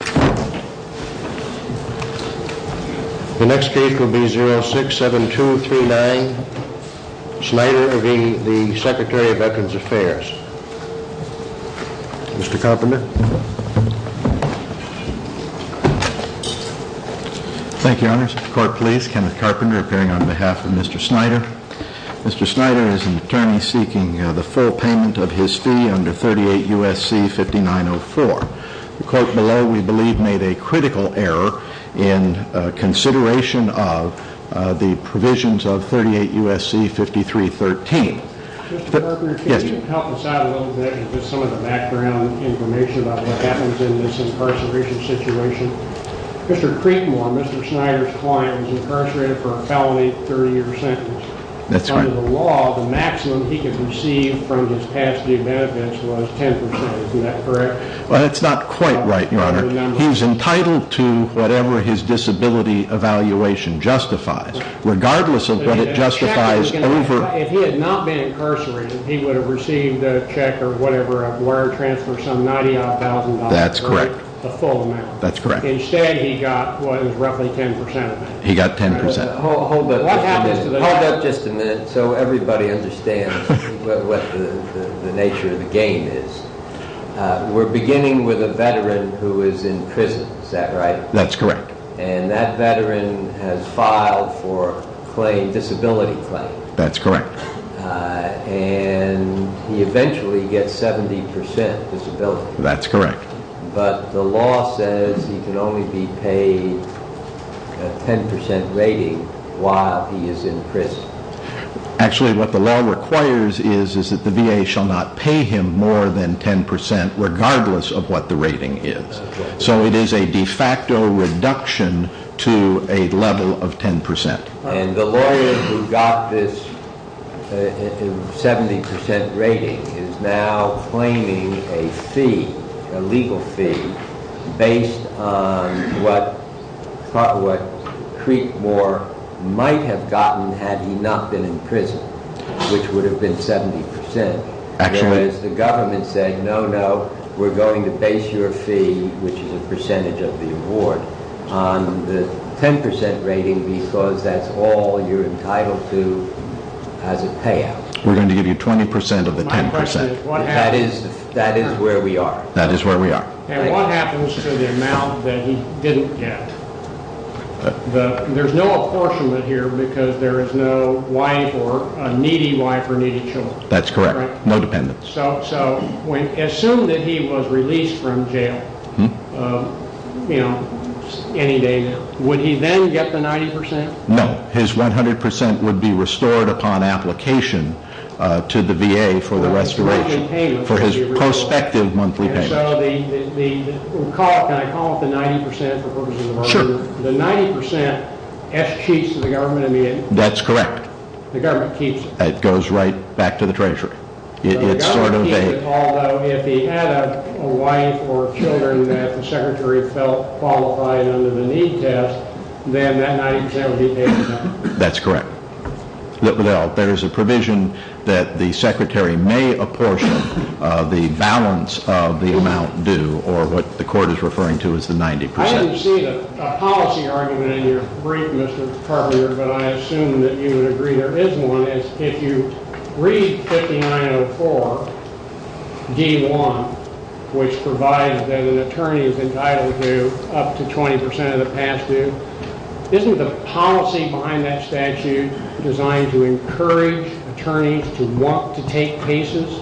The next case will be 067239, Snyder v. Secretary of Veterans Affairs. Mr. Carpenter. Thank you, Your Honors. Court please. Kenneth Carpenter appearing on behalf of Mr. Snyder. Mr. Snyder is an attorney seeking the full payment of his fee under 38 U.S.C. 5904. The court below, we believe, made a critical error in consideration of the provisions of 38 U.S.C. 5313. Mr. Carpenter, can you help us out a little bit with some of the background information about what happens in this incarceration situation? Mr. Creekmore, Mr. Snyder's client, was incarcerated for a felony 30-year sentence. That's right. Under the law, the maximum he could receive from his past-due benefits was 10%. Is that correct? That's not quite right, Your Honor. He was entitled to whatever his disability evaluation justifies, regardless of what it justifies over... If he had not been incarcerated, he would have received a check or whatever, a wire transfer, some $90,000. That's correct. The full amount. That's correct. Instead, he got roughly 10% of it. He got 10%. Hold up just a minute so everybody understands what the nature of the game is. We're beginning with a veteran who is in prison. Is that right? That's correct. And that veteran has filed for a disability claim. That's correct. And he eventually gets 70% disability. That's correct. But the law says he can only be paid a 10% rating while he is in prison. Actually, what the law requires is that the VA shall not pay him more than 10%, regardless of what the rating is. So it is a de facto reduction to a level of 10%. And the lawyer who got this 70% rating is now claiming a fee, a legal fee, based on what Creekmore might have gotten had he not been in prison, which would have been 70%. Whereas the government said, no, no, we're going to base your fee, which is a percentage of the award, on the 10% rating because that's all you're entitled to as a payout. We're going to give you 20% of the 10%. That is where we are. That is where we are. And what happens to the amount that he didn't get? There's no apportionment here because there is no wife or a needy wife or needy children. That's correct. No dependents. So assume that he was released from jail any day now. Would he then get the 90%? No. His 100% would be restored upon application to the VA for the restoration, for his prospective monthly payments. And so the, can I call it the 90% for purposes of order? Sure. The 90% eschews to the government and VA? That's correct. The government keeps it? It goes right back to the treasury. It's sort of a- The government keeps it all, though. If he had a wife or children that the secretary felt qualified under the need test, then that 90% would be paid back? That's correct. Well, there is a provision that the secretary may apportion the balance of the amount due, or what the court is referring to as the 90%. I didn't see a policy argument in your brief, Mr. Carver, but I assume that you would agree there is one. If you read 5904D1, which provides that an attorney is entitled to up to 20% of the past due, isn't the policy behind that statute designed to encourage attorneys to want to take cases,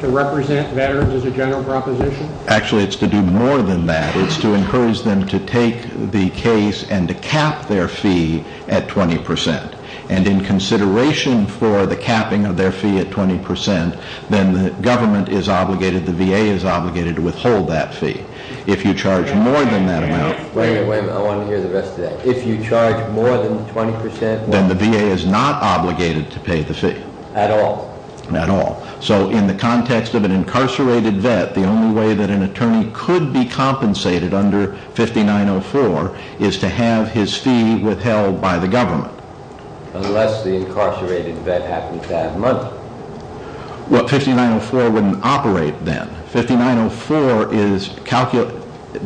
to represent veterans as a general proposition? Actually, it's to do more than that. It's to encourage them to take the case and to cap their fee at 20%. And in consideration for the capping of their fee at 20%, then the government is obligated, the VA is obligated to withhold that fee. If you charge more than that amount- Wait a minute. I want to hear the rest of that. If you charge more than 20%- Then the VA is not obligated to pay the fee. At all? At all. So in the context of an incarcerated vet, the only way that an attorney could be compensated under 5904 is to have his fee withheld by the government. Unless the incarcerated vet happens to have money. Well, 5904 wouldn't operate then.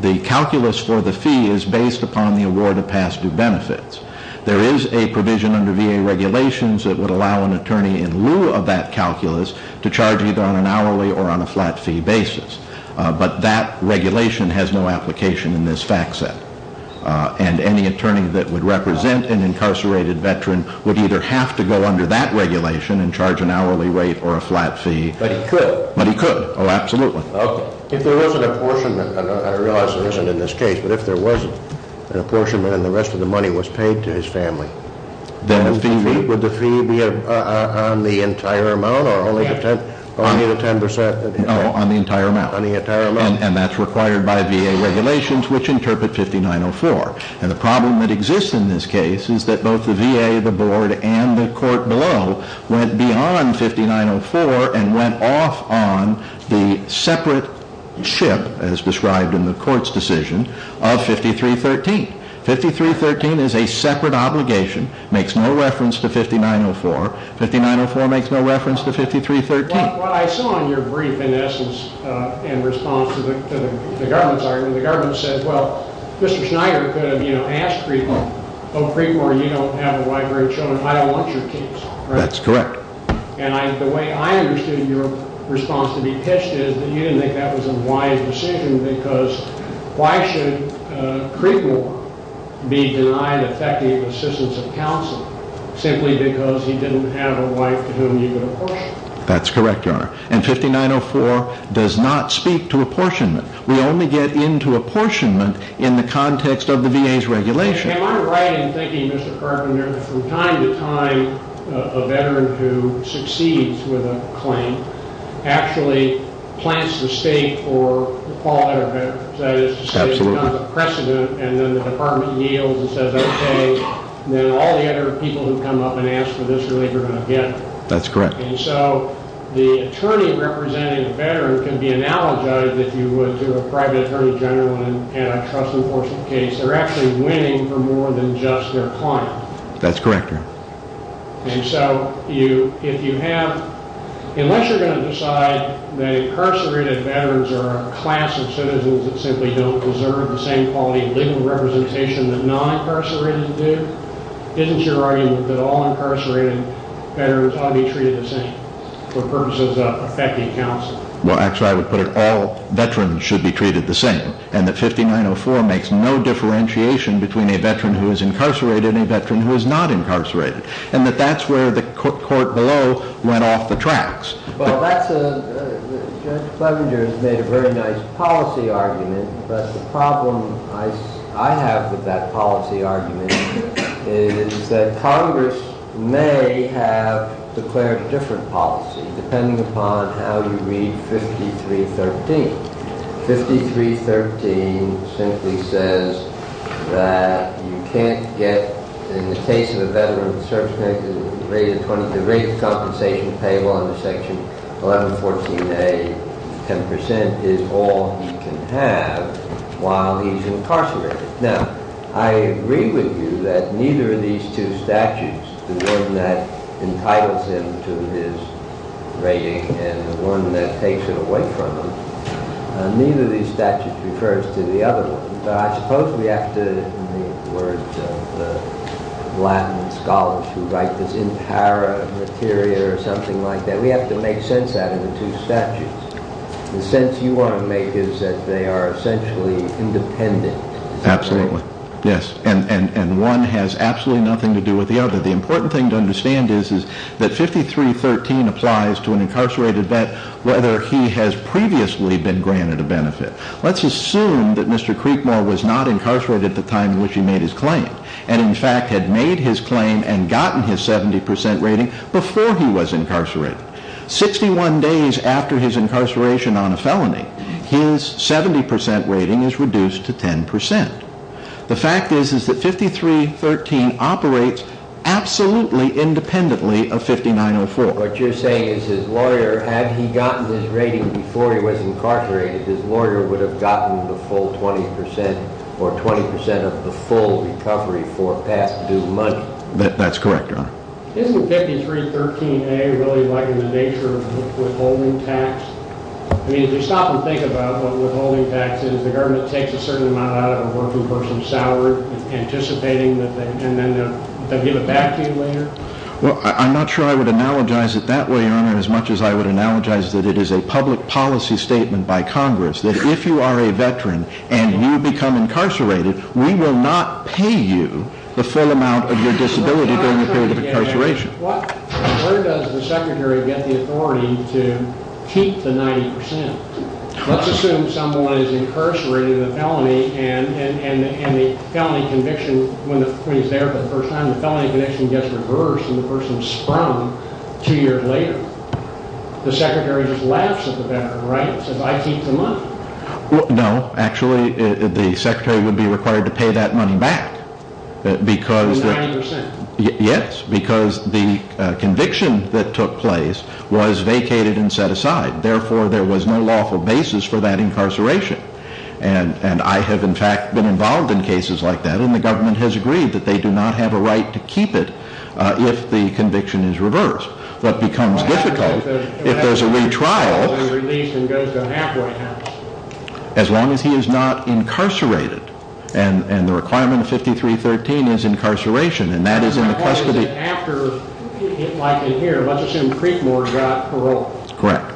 The calculus for the fee is based upon the award of past due benefits. There is a provision under VA regulations that would allow an attorney in lieu of that calculus to charge either on an hourly or on a flat fee basis. But that regulation has no application in this fact set. And any attorney that would represent an incarcerated veteran would either have to go under that regulation and charge an hourly rate or a flat fee- But he could? But he could. Oh, absolutely. If there was an apportionment, and I realize there isn't in this case, but if there was an apportionment and the rest of the money was paid to his family, would the fee be on the entire amount or only the 10%? No, on the entire amount. On the entire amount. And that's required by VA regulations which interpret 5904. And the problem that exists in this case is that both the VA, the board, and the court below went beyond 5904 and went off on the separate ship, as described in the court's decision, of 5313. 5313 is a separate obligation, makes no reference to 5904. 5904 makes no reference to 5313. What I saw in your brief, in essence, in response to the government's argument, the government said, well, Mr. Schneider could have asked Creekmore, oh, Creekmore, you don't have a wife or children, I don't want your case. That's correct. And the way I understood your response to be pitched is that you didn't think that was a wise decision because why should Creekmore be denied effective assistance of counsel simply because he didn't have a wife to whom you could apportion? That's correct, Your Honor. And 5904 does not speak to apportionment. We only get into apportionment in the context of the VA's regulation. Am I right in thinking, Mr. Carpenter, that from time to time a veteran who succeeds with a claim actually plants the stake for the fallout of their veterans? Absolutely. That is to say it becomes a precedent and then the department yields and says, okay, then all the other people who come up and ask for this relief are going to get it. That's correct. And so the attorney representing a veteran can be analogized, if you would, to a private attorney general in a trust enforcement case. They're actually winning for more than just their client. And so if you have, unless you're going to decide that incarcerated veterans are a class of citizens that simply don't deserve the same quality of legal representation that non-incarcerated do, isn't your argument that all incarcerated veterans ought to be treated the same for purposes of effective counsel? Well, actually I would put it all veterans should be treated the same and that 5904 makes no differentiation between a veteran who is incarcerated and a veteran who is not incarcerated. And that that's where the court below went off the tracks. Well, Judge Clevenger has made a very nice policy argument, but the problem I have with that policy argument is that Congress may have declared a different policy depending upon how you read 5313. 5313 simply says that you can't get, in the case of a veteran, the rate of compensation payable under section 1114A, 10% is all he can have while he's incarcerated. Now, I agree with you that neither of these two statutes, the one that entitles him to his rating and the one that takes it away from him, neither of these statutes refers to the other one. But I suppose we have to, in the words of the Latin scholars who write this impera materia or something like that, we have to make sense out of the two statutes. The sense you want to make is that they are essentially independent. Absolutely, yes, and one has absolutely nothing to do with the other. The important thing to understand is that 5313 applies to an incarcerated vet whether he has previously been granted a benefit. Let's assume that Mr. Creekmore was not incarcerated at the time in which he made his claim and in fact had made his claim and gotten his 70% rating before he was incarcerated. 61 days after his incarceration on a felony, his 70% rating is reduced to 10%. The fact is that 5313 operates absolutely independently of 5904. What you're saying is his lawyer, had he gotten his rating before he was incarcerated, his lawyer would have gotten the full 20% or 20% of the full recovery for past due money. That's correct, Your Honor. Isn't 5313A really like in the nature of withholding tax? I mean if you stop and think about what withholding tax is, the government takes a certain amount out of a working person's salary anticipating that they'll give it back to you later? Well, I'm not sure I would analogize it that way, Your Honor, as much as I would analogize that it is a public policy statement by Congress that if you are a veteran and you become incarcerated, we will not pay you the full amount of your disability during the period of incarceration. Where does the Secretary get the authority to keep the 90%? Let's assume someone is incarcerated in a felony and the felony conviction, when he's there for the first time, the felony conviction gets reversed and the person is sprung two years later. The Secretary just laughs at the veteran, right? He says, I keep the money. No, actually, the Secretary would be required to pay that money back. 90%? Yes, because the conviction that took place was vacated and set aside. Therefore, there was no lawful basis for that incarceration. And I have, in fact, been involved in cases like that, and the government has agreed that they do not have a right to keep it if the conviction is reversed. If there is a retrial, as long as he is not incarcerated, and the requirement of 5313 is incarceration, and that is in the custody. After, like in here, let's assume Creekmore got parole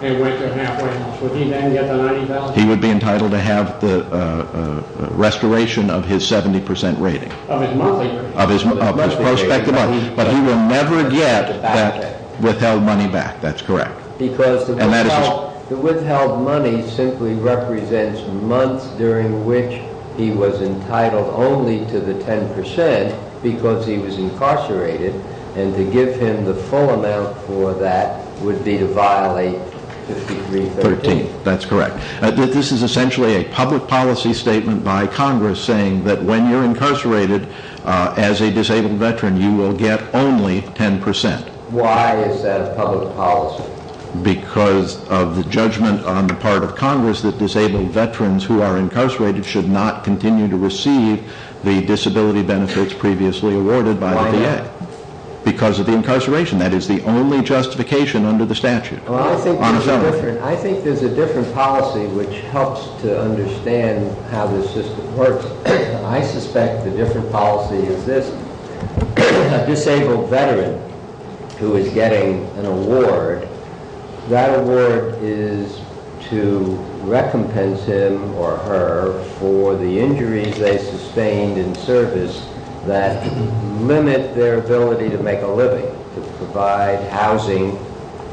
and went to a halfway house, would he then get the 90%? He would be entitled to have the restoration of his 70% rating. Of his monthly rating? But he would never get that withheld money back, that's correct. Because the withheld money simply represents months during which he was entitled only to the 10% because he was incarcerated. And to give him the full amount for that would be to violate 5313. That's correct. This is essentially a public policy statement by Congress saying that when you're incarcerated as a disabled veteran, you will get only 10%. Why is that a public policy? Because of the judgment on the part of Congress that disabled veterans who are incarcerated should not continue to receive the disability benefits previously awarded by the VA. Why not? Because of the incarceration. That is the only justification under the statute. I think there's a different policy which helps to understand how this system works. I suspect the different policy is this. A disabled veteran who is getting an award, that award is to recompense him or her for the injuries they sustained in service that limit their ability to make a living. To provide housing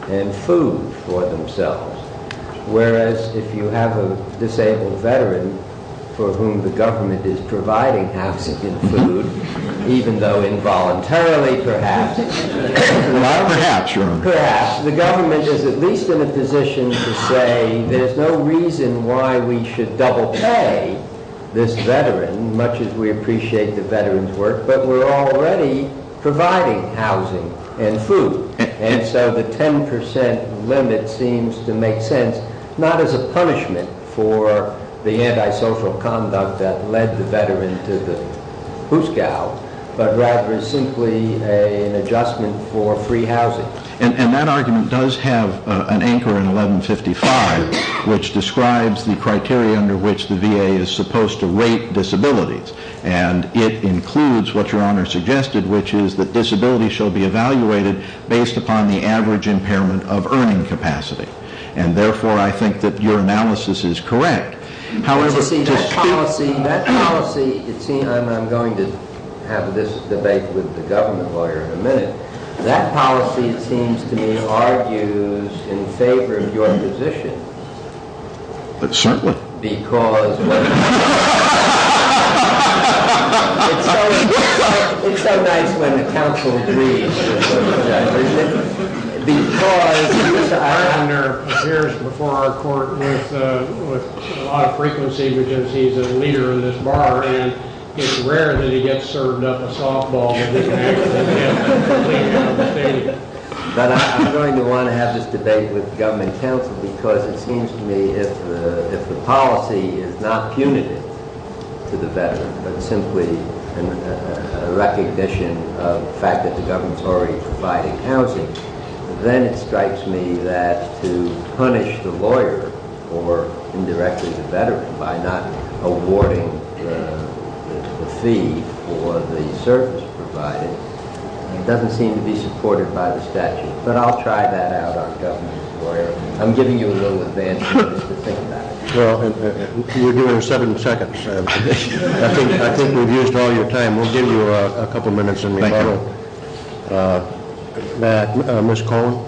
and food for themselves. Whereas if you have a disabled veteran for whom the government is providing housing and food, even though involuntarily perhaps, perhaps the government is at least in a position to say there's no reason why we should double pay this veteran much as we appreciate the veteran's work. But we're already providing housing and food. And so the 10% limit seems to make sense. Not as a punishment for the antisocial conduct that led the veteran to the hoosegow, but rather simply an adjustment for free housing. And that argument does have an anchor in 1155, which describes the criteria under which the VA is supposed to rate disabilities. And it includes what your honor suggested, which is that disability shall be evaluated based upon the average impairment of earning capacity. And therefore, I think that your analysis is correct. That policy, I'm going to have this debate with the government lawyer in a minute. That policy seems to me argues in favor of your position. Certainly. It's so nice when the council agrees. Because Mr. Islander appears before our court with a lot of frequency because he's a leader in this bar and it's rare that he gets served up a softball. But I'm going to want to have this debate with government counsel because it seems to me if the policy is not punitive to the veteran, but simply a recognition of the fact that the government's already providing housing. Then it strikes me that to punish the lawyer or indirectly the veteran by not awarding the fee for the service provided doesn't seem to be supported by the statute. But I'll try that out on government lawyer. I'm giving you a little advantage to think about it. Well, you're doing seven seconds. I think we've used all your time. Thank you. Ms. Cohen.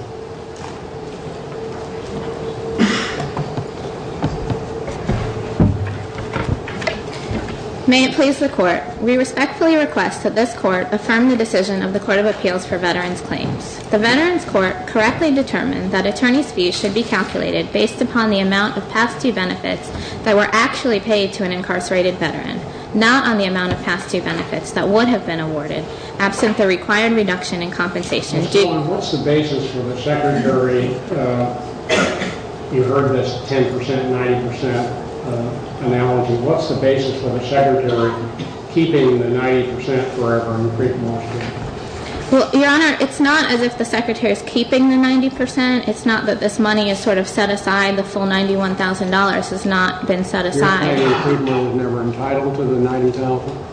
May it please the court. We respectfully request that this court affirm the decision of the Court of Appeals for Veterans Claims. The Veterans Court correctly determined that attorney's fees should be calculated based upon the amount of past due benefits that were actually paid to an incarcerated veteran. Not on the amount of past due benefits that would have been awarded. Absent the required reduction in compensation due. Ms. Cohen, what's the basis for the secretary, you heard this 10%, 90% analogy. What's the basis for the secretary keeping the 90% forever? I'm afraid I'm lost here. Well, Your Honor, it's not as if the secretary is keeping the 90%. It's not that this money is sort of set aside. The full $91,000 has not been set aside. Are you saying that Creedmoor was never entitled to the 90,000?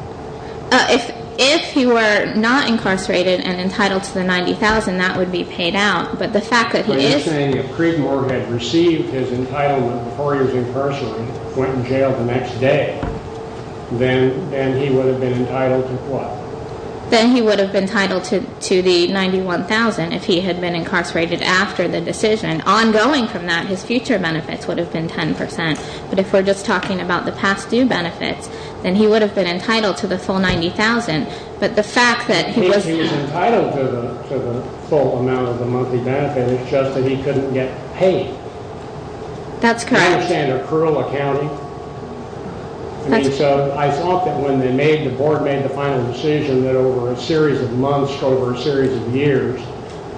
If he were not incarcerated and entitled to the 90,000, that would be paid out. But the fact that he is. Are you saying if Creedmoor had received his entitlement before he was incarcerated, went to jail the next day, then he would have been entitled to what? Then he would have been entitled to the 91,000 if he had been incarcerated after the decision. Ongoing from that, his future benefits would have been 10%. But if we're just talking about the past due benefits, then he would have been entitled to the full 90,000. But the fact that he was. He was entitled to the full amount of the monthly benefit. It's just that he couldn't get paid. That's correct. Do you understand accrual accounting? I mean, so I thought that when they made, the board made the final decision that over a series of months, over a series of years,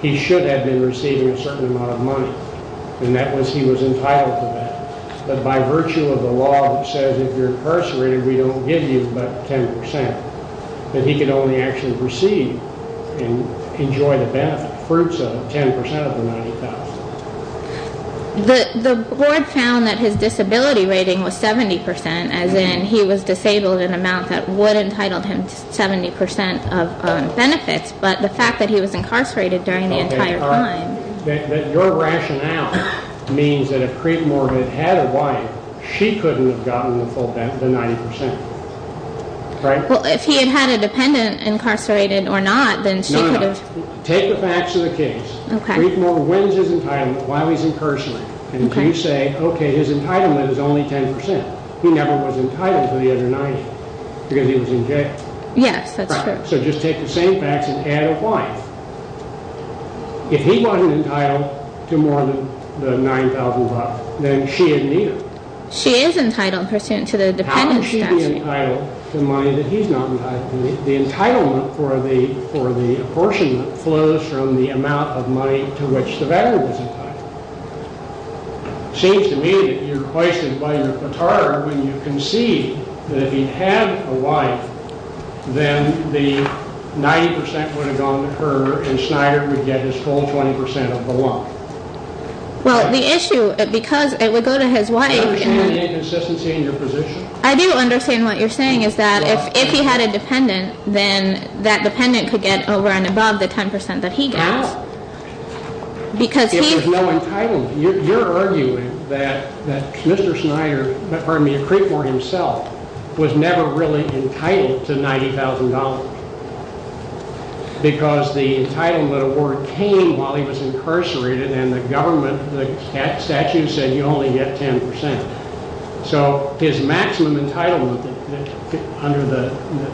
he should have been receiving a certain amount of money. And that was, he was entitled to that. But by virtue of the law that says, if you're incarcerated, we don't give you but 10%. That he could only actually receive and enjoy the benefit fruits of 10% of the 90,000. The board found that his disability rating was 70%, as in he was disabled in an amount that would have entitled him to 70% of benefits. But the fact that he was incarcerated during the entire time. That your rationale means that if Creekmore had had a wife, she couldn't have gotten the full 90%. Right? Well, if he had had a dependent incarcerated or not, then she could have. No, no. Take the facts of the case. Okay. Creekmore wins his entitlement while he's incarcerated. Okay. And you say, okay, his entitlement is only 10%. He never was entitled to the other 90. Because he was in jail. Yes, that's true. So just take the same facts and add a wife. If he wasn't entitled to more than the 9,000 bucks, then she didn't need it. She is entitled to the dependent. How could she be entitled to money that he's not entitled to? The entitlement for the apportionment flows from the amount of money to which the veteran was entitled. It seems to me that you're questioned by your petard when you concede that if he had a wife, then the 90% would have gone to her and Snyder would get his full 20% of the lump. Well, the issue, because it would go to his wife. Do you understand the inconsistency in your position? I do understand what you're saying is that if he had a dependent, then that dependent could get over and above the 10% that he gets. If there's no entitlement. You're arguing that Mr. Snyder, pardon me, Creeper himself, was never really entitled to $90,000. Because the entitlement award came while he was incarcerated and the government, the statute said you only get 10%. So his maximum entitlement under the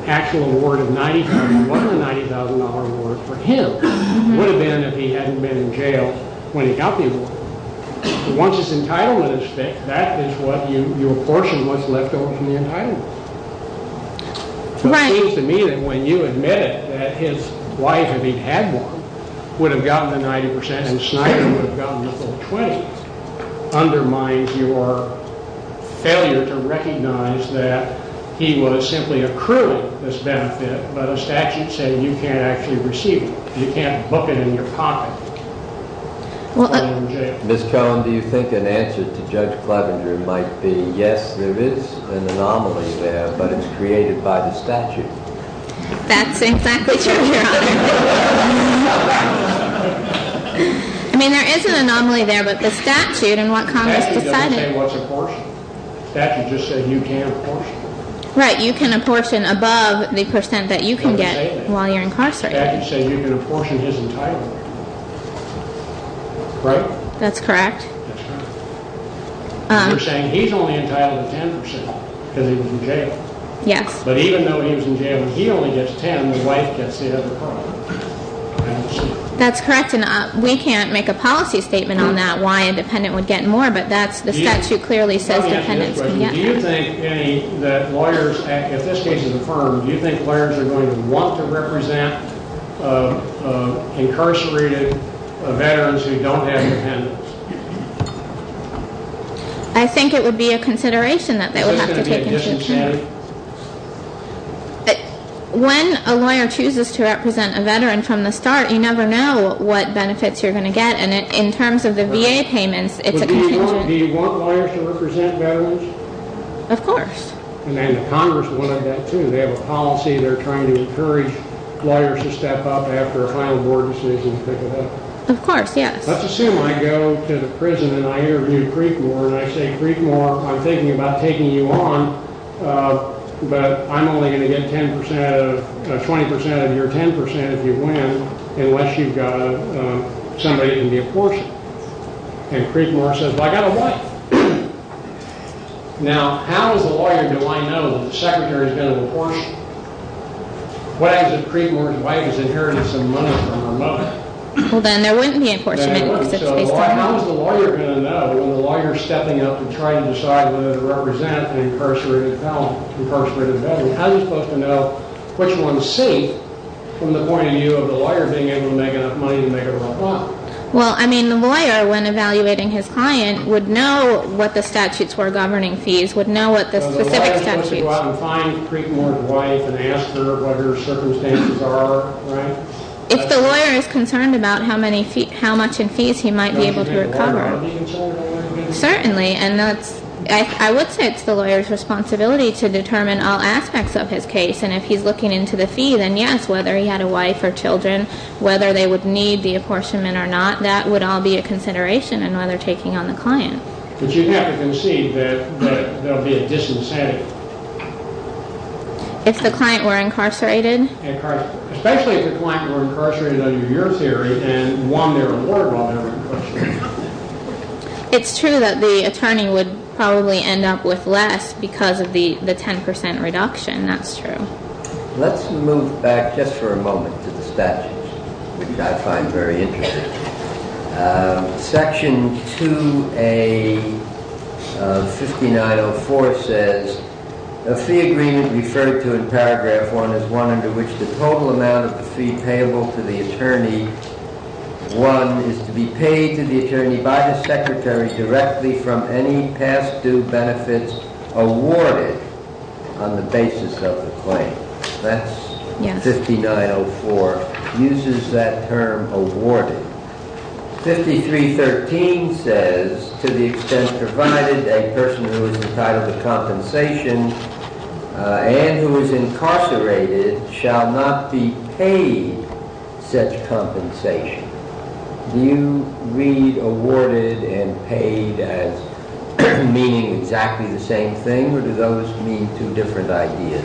actual award of $90,000, what the $90,000 award for him would have been if he hadn't been in jail when he got the award. Once his entitlement is fixed, that is what you apportion what's left over from the entitlement. Right. It seems to me that when you admit it, that his wife, if he'd had one, would have gotten the 90% and Snyder would have gotten the full 20, undermines your failure to recognize that he was simply accruing this benefit, but a statute saying you can't actually receive it. You can't book it in your pocket and put it in jail. Ms. Cohen, do you think an answer to Judge Clevenger might be, yes, there is an anomaly there, but it's created by the statute? That's exactly true, Your Honor. I mean, there is an anomaly there, but the statute and what Congress decided. The statute doesn't say what's apportioned. The statute just said you can't apportion. Right, you can apportion above the percent that you can get while you're incarcerated. The statute said you can apportion his entitlement. Right? That's correct. That's correct. We're saying he's only entitled to 10% because he was in jail. Yes. But even though he was in jail, he only gets 10. His wife gets the other part. That's correct, and we can't make a policy statement on that, why a dependent would get more, but the statute clearly says dependents can get more. Do you think that lawyers at this case of the firm, do you think lawyers are going to want to represent incarcerated veterans who don't have dependents? I think it would be a consideration that they would have to take into account. When a lawyer chooses to represent a veteran from the start, you never know what benefits you're going to get, and in terms of the VA payments, it's a contingent. But do you want lawyers to represent veterans? Of course. And the Congress would want that, too. They have a policy. They're trying to encourage lawyers to step up after a final board decision to pick it up. Of course, yes. Let's assume I go to the prison and I interview Creekmore, and I say, Creekmore, I'm thinking about taking you on, but I'm only going to get 20% of your 10% if you win unless you've got somebody that can be apportioned. And Creekmore says, well, I've got a wife. Now, how as a lawyer do I know that the secretary has been apportioned? What happens if Creekmore's wife is inheriting some money from her mother? Well, then there wouldn't be apportionment. There wouldn't. So how is the lawyer going to know when the lawyer's stepping up to try and decide whether to represent an incarcerated veteran? How are you supposed to know which one's safe from the point of view of the lawyer being able to make enough money to make it all up? Well, I mean, the lawyer, when evaluating his client, would know what the statutes were governing fees, would know what the specific statutes. So the lawyer's supposed to go out and find Creekmore's wife and ask her what her circumstances are, right? If the lawyer is concerned about how much in fees he might be able to recover. Certainly, and I would say it's the lawyer's responsibility to determine all aspects of his case. And if he's looking into the fee, then yes, whether he had a wife or children, whether they would need the apportionment or not, that would all be a consideration in whether taking on the client. But you'd have to concede that there would be a disincentive. If the client were incarcerated? Especially if the client were incarcerated under your theory and won their report while they were incarcerated. It's true that the attorney would probably end up with less because of the 10 percent reduction, that's true. Let's move back just for a moment to the statutes, which I find very interesting. Section 2A of 5904 says, A fee agreement referred to in paragraph 1 is one under which the total amount of the fee payable to the attorney, 1, is to be paid to the attorney by the secretary directly from any past due benefits awarded on the basis of the claim. That's 5904, uses that term awarded. 5313 says, To the extent provided, a person who is entitled to compensation and who is incarcerated shall not be paid such compensation. Do you read awarded and paid as meaning exactly the same thing, or do those mean two different ideas?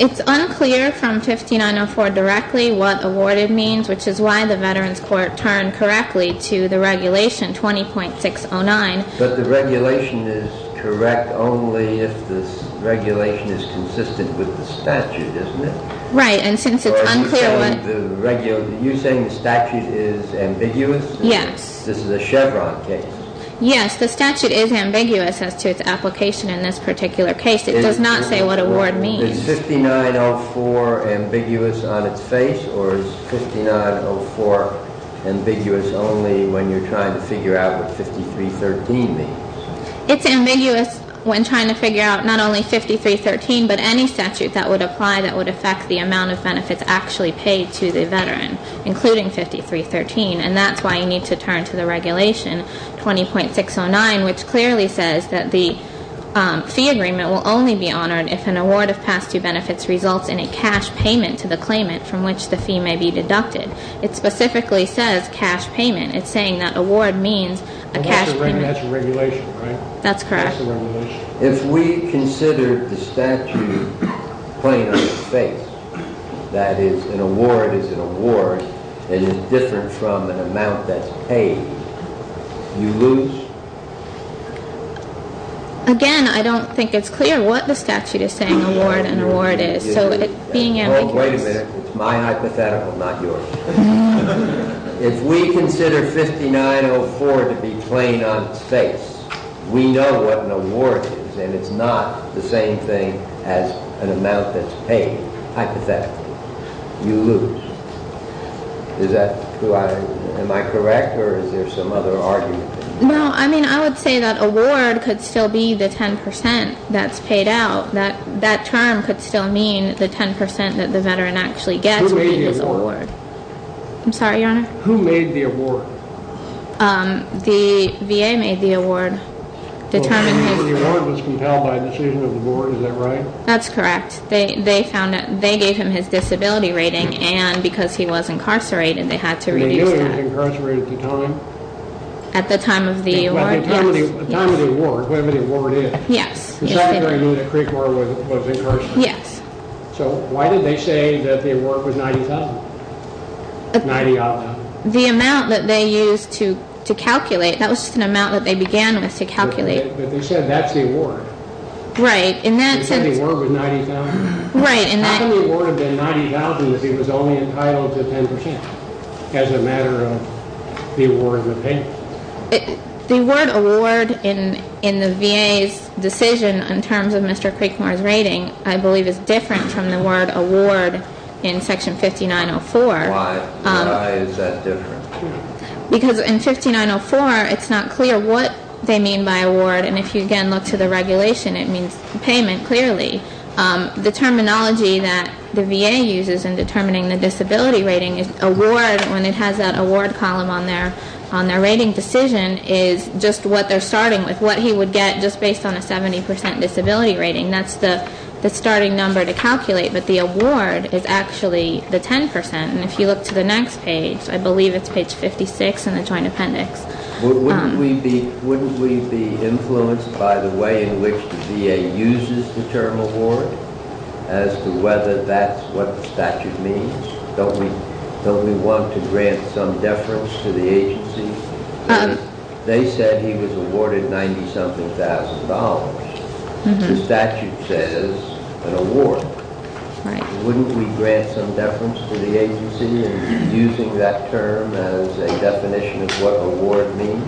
It's unclear from 5904 directly what awarded means, which is why the Veterans Court turned correctly to the regulation 20.609. But the regulation is correct only if the regulation is consistent with the statute, isn't it? Right, and since it's unclear what- Are you saying the statute is ambiguous? Yes. This is a Chevron case. Yes, the statute is ambiguous as to its application in this particular case. It does not say what award means. Is 5904 ambiguous on its face, or is 5904 ambiguous only when you're trying to figure out what 5313 means? It's ambiguous when trying to figure out not only 5313, but any statute that would apply that would affect the amount of benefits actually paid to the veteran, including 5313. And that's why you need to turn to the regulation 20.609, which clearly says that the fee agreement will only be honored if an award of past due benefits results in a cash payment to the claimant from which the fee may be deducted. It specifically says cash payment. It's saying that award means a cash payment- That's a regulation, right? That's correct. That's a regulation. If we consider the statute plain on its face, that is, an award is an award and is different from an amount that's paid, you lose? Again, I don't think it's clear what the statute is saying award and award is, so it being ambiguous- Oh, wait a minute. It's my hypothetical, not yours. If we consider 5904 to be plain on its face, we know what an award is, and it's not the same thing as an amount that's paid. Hypothetically, you lose. Am I correct, or is there some other argument? No, I mean, I would say that award could still be the 10% that's paid out. That term could still mean the 10% that the veteran actually gets- Who made the award? I'm sorry, Your Honor? Who made the award? The VA made the award. The award was compelled by a decision of the board, is that right? That's correct. They gave him his disability rating, and because he was incarcerated, they had to reduce that. The VA was incarcerated at the time? At the time of the award, yes. At the time of the award, whatever the award is. Yes. The fact that I knew that Creekmore was incarcerated. Yes. So why did they say that the award was $90,000? The amount that they used to calculate, that was just an amount that they began with to calculate. But they said that's the award. Right. They said the award was $90,000. Right. How can the award have been $90,000 if he was only entitled to 10% as a matter of the award being paid? The word award in the VA's decision in terms of Mr. Creekmore's rating, I believe, is different from the word award in Section 5904. Why is that different? Because in 5904, it's not clear what they mean by award, and if you again look to the regulation, it means payment, clearly. The terminology that the VA uses in determining the disability rating is award, when it has that award column on their rating decision is just what they're starting with, what he would get just based on a 70% disability rating. That's the starting number to calculate, but the award is actually the 10%. And if you look to the next page, I believe it's page 56 in the Joint Appendix. Wouldn't we be influenced by the way in which the VA uses the term award as to whether that's what the statute means? Don't we want to grant some deference to the agency? They said he was awarded $90-something thousand dollars. The statute says an award. Wouldn't we grant some deference to the agency in using that term as a definition of what award means?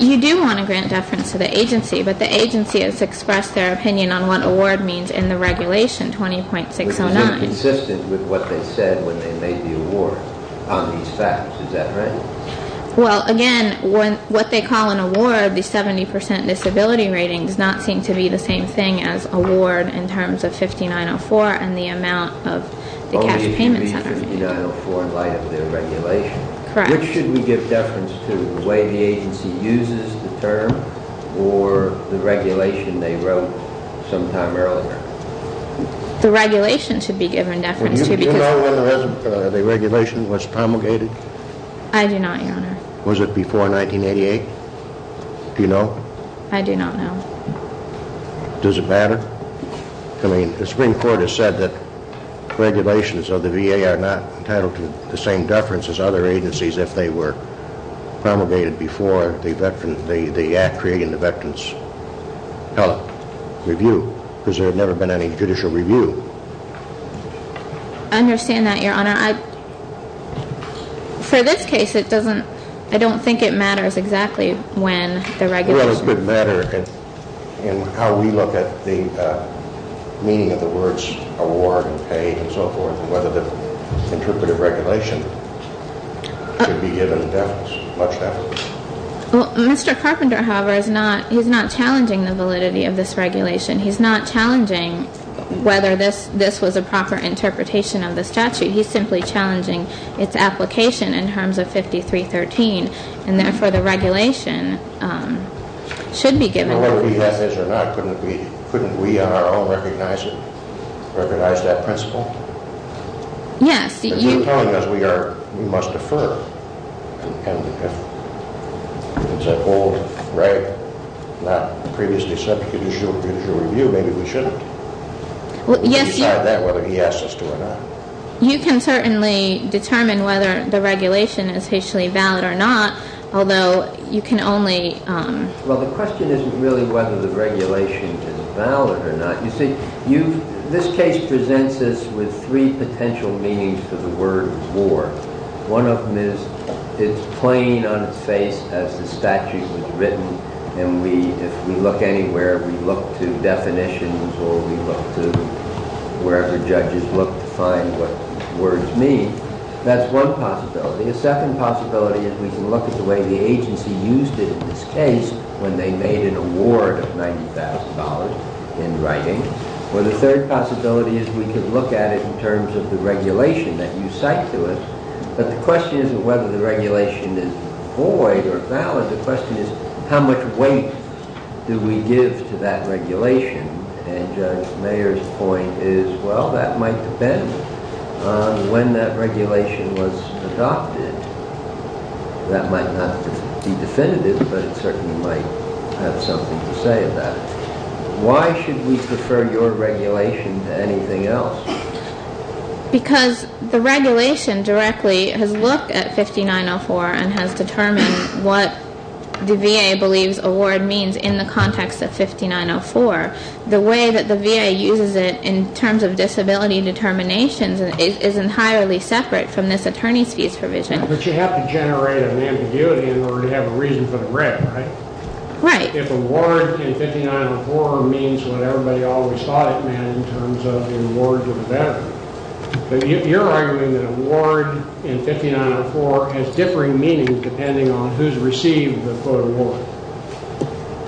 You do want to grant deference to the agency, but the agency has expressed their opinion on what award means in the regulation 20.609. It was inconsistent with what they said when they made the award on these facts. Is that right? Well, again, what they call an award, the 70% disability rating, does not seem to be the same thing as award in terms of 5904 and the amount of the cash payments that are made. Oh, it should be 5904 in light of their regulation. Correct. Which should we give deference to, the way the agency uses the term or the regulation they wrote some time earlier? The regulation should be given deference to. Do you know whether the regulation was promulgated? I do not, Your Honor. Was it before 1988? Do you know? I do not know. Does it matter? I mean, the Supreme Court has said that regulations of the VA are not entitled to the same deference as other agencies if they were promulgated before the act creating the Veterans Review, because there had never been any judicial review. I understand that, Your Honor. For this case, I don't think it matters exactly when the regulation was promulgated. Well, it would matter in how we look at the meaning of the words award and pay and so forth, and whether the interpretive regulation should be given deference, much deference. Well, Mr. Carpenter, however, is not challenging the validity of this regulation. He's not challenging whether this was a proper interpretation of the statute. He's simply challenging its application in terms of 5313, and therefore the regulation should be given. Now, whether we have this or not, couldn't we on our own recognize it, recognize that principle? Yes. But you're telling us we must defer. And if it's a whole right not previously subject to judicial review, maybe we shouldn't. We'll decide that whether he asks us to or not. You can certainly determine whether the regulation is officially valid or not, although you can only— Well, the question isn't really whether the regulation is valid or not. You see, this case presents us with three potential meanings for the word war. One of them is it's plain on its face as the statute was written, and if we look anywhere, we look to definitions or we look to wherever judges look to find what words mean. That's one possibility. A second possibility is we can look at the way the agency used it in this case when they made an award of $90,000 in writing. Or the third possibility is we can look at it in terms of the regulation that you cite to us. But the question isn't whether the regulation is void or valid. The question is how much weight do we give to that regulation? And Judge Mayer's point is, well, that might depend on when that regulation was adopted. That might not be definitive, but it certainly might have something to say about it. Why should we prefer your regulation to anything else? Because the regulation directly has looked at 5904 and has determined what the VA believes award means in the context of 5904. The way that the VA uses it in terms of disability determinations is entirely separate from this attorney's fees provision. But you have to generate an ambiguity in order to have a reason for the writ, right? Right. If award in 5904 means what everybody always thought it meant in terms of an award to the veteran, then you're arguing that award in 5904 has differing meanings depending on who's received the quote award.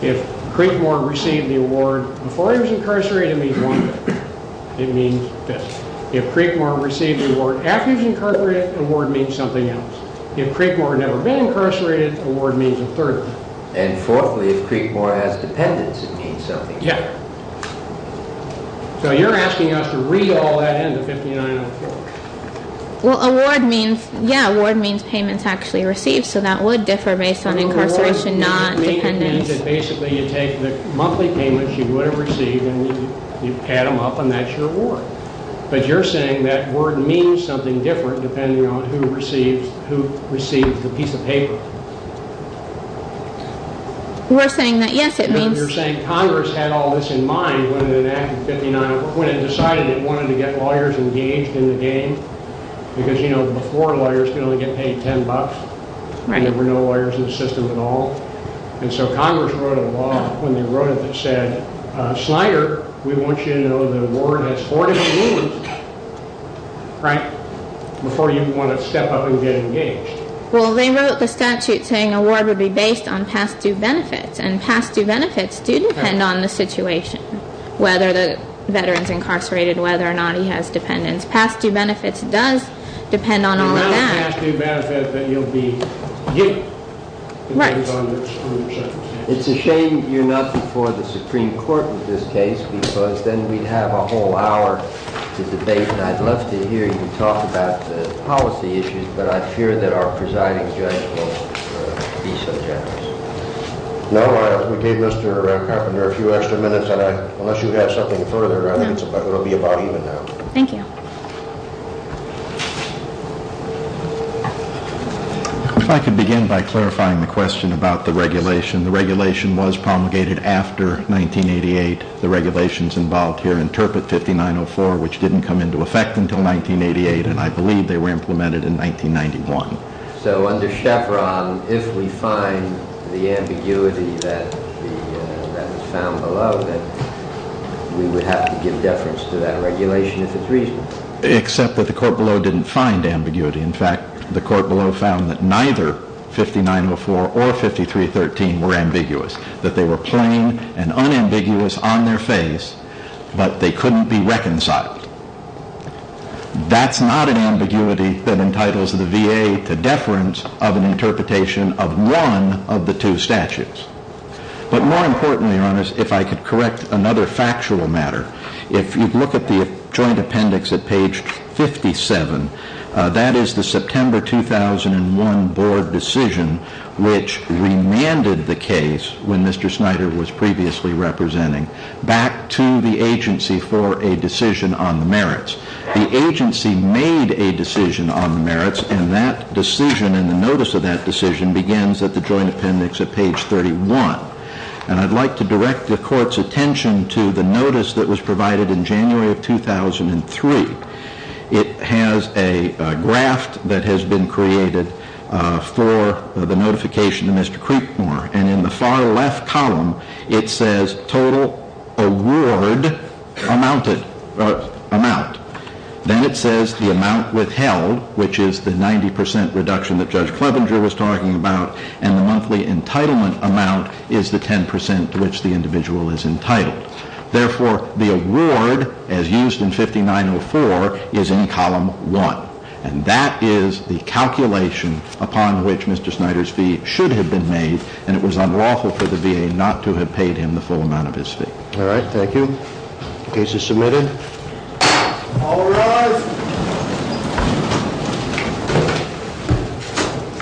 If Creekmore received the award before he was incarcerated, it means one thing. It means this. If Creekmore received the award after he was incarcerated, award means something else. If Creekmore had never been incarcerated, award means a third of it. And fourthly, if Creekmore has dependents, it means something else. Yeah. So you're asking us to read all that into 5904. Well, award means, yeah, award means payments actually received, so that would differ based on incarceration, not dependents. It means that basically you take the monthly payments you would have received and you add them up, and that's your award. But you're saying that word means something different depending on who receives the piece of paper. We're saying that, yes, it means. No, you're saying Congress had all this in mind when it decided it wanted to get lawyers engaged in the game because, you know, before lawyers could only get paid $10. Right. There were no lawyers in the system at all. And so Congress wrote a law when they wrote it that said, Snyder, we want you to know the award has 40 new lawyers, right, before you want to step up and get engaged. Well, they wrote the statute saying award would be based on past due benefits, and past due benefits do depend on the situation, whether the veteran's incarcerated, whether or not he has dependents. Past due benefits does depend on all of that. Past due benefits that you'll be getting. Right. It's a shame you're not before the Supreme Court with this case because then we'd have a whole hour to debate, and I'd love to hear you talk about the policy issues, but I fear that our presiding judge won't be so generous. No, we gave Mr. Carpenter a few extra minutes, and unless you have something further, I think it will be about even now. Thank you. If I could begin by clarifying the question about the regulation. The regulation was promulgated after 1988. The regulations involved here interpret 5904, which didn't come into effect until 1988, and I believe they were implemented in 1991. So under Chevron, if we find the ambiguity that is found below, then we would have to give deference to that regulation if it's reasonable. Except that the court below didn't find ambiguity. In fact, the court below found that neither 5904 or 5313 were ambiguous, that they were plain and unambiguous on their face, but they couldn't be reconciled. That's not an ambiguity that entitles the VA to deference of an interpretation of one of the two statutes. But more importantly, Your Honors, if I could correct another factual matter. If you look at the joint appendix at page 57, that is the September 2001 board decision, which remanded the case when Mr. Snyder was previously representing, back to the agency for a decision on the merits. The agency made a decision on the merits, and that decision and the notice of that decision begins at the joint appendix at page 31. And I'd like to direct the court's attention to the notice that was provided in January of 2003. It has a graft that has been created for the notification to Mr. Creekmore. And in the far left column, it says total award amount. Then it says the amount withheld, which is the 90% reduction that Judge Clevenger was talking about, and the monthly entitlement amount is the 10% to which the individual is entitled. Therefore, the award, as used in 5904, is in column one. And that is the calculation upon which Mr. Snyder's fee should have been made, and it was unlawful for the VA not to have paid him the full amount of his fee. All right, thank you. Case is submitted. All rise.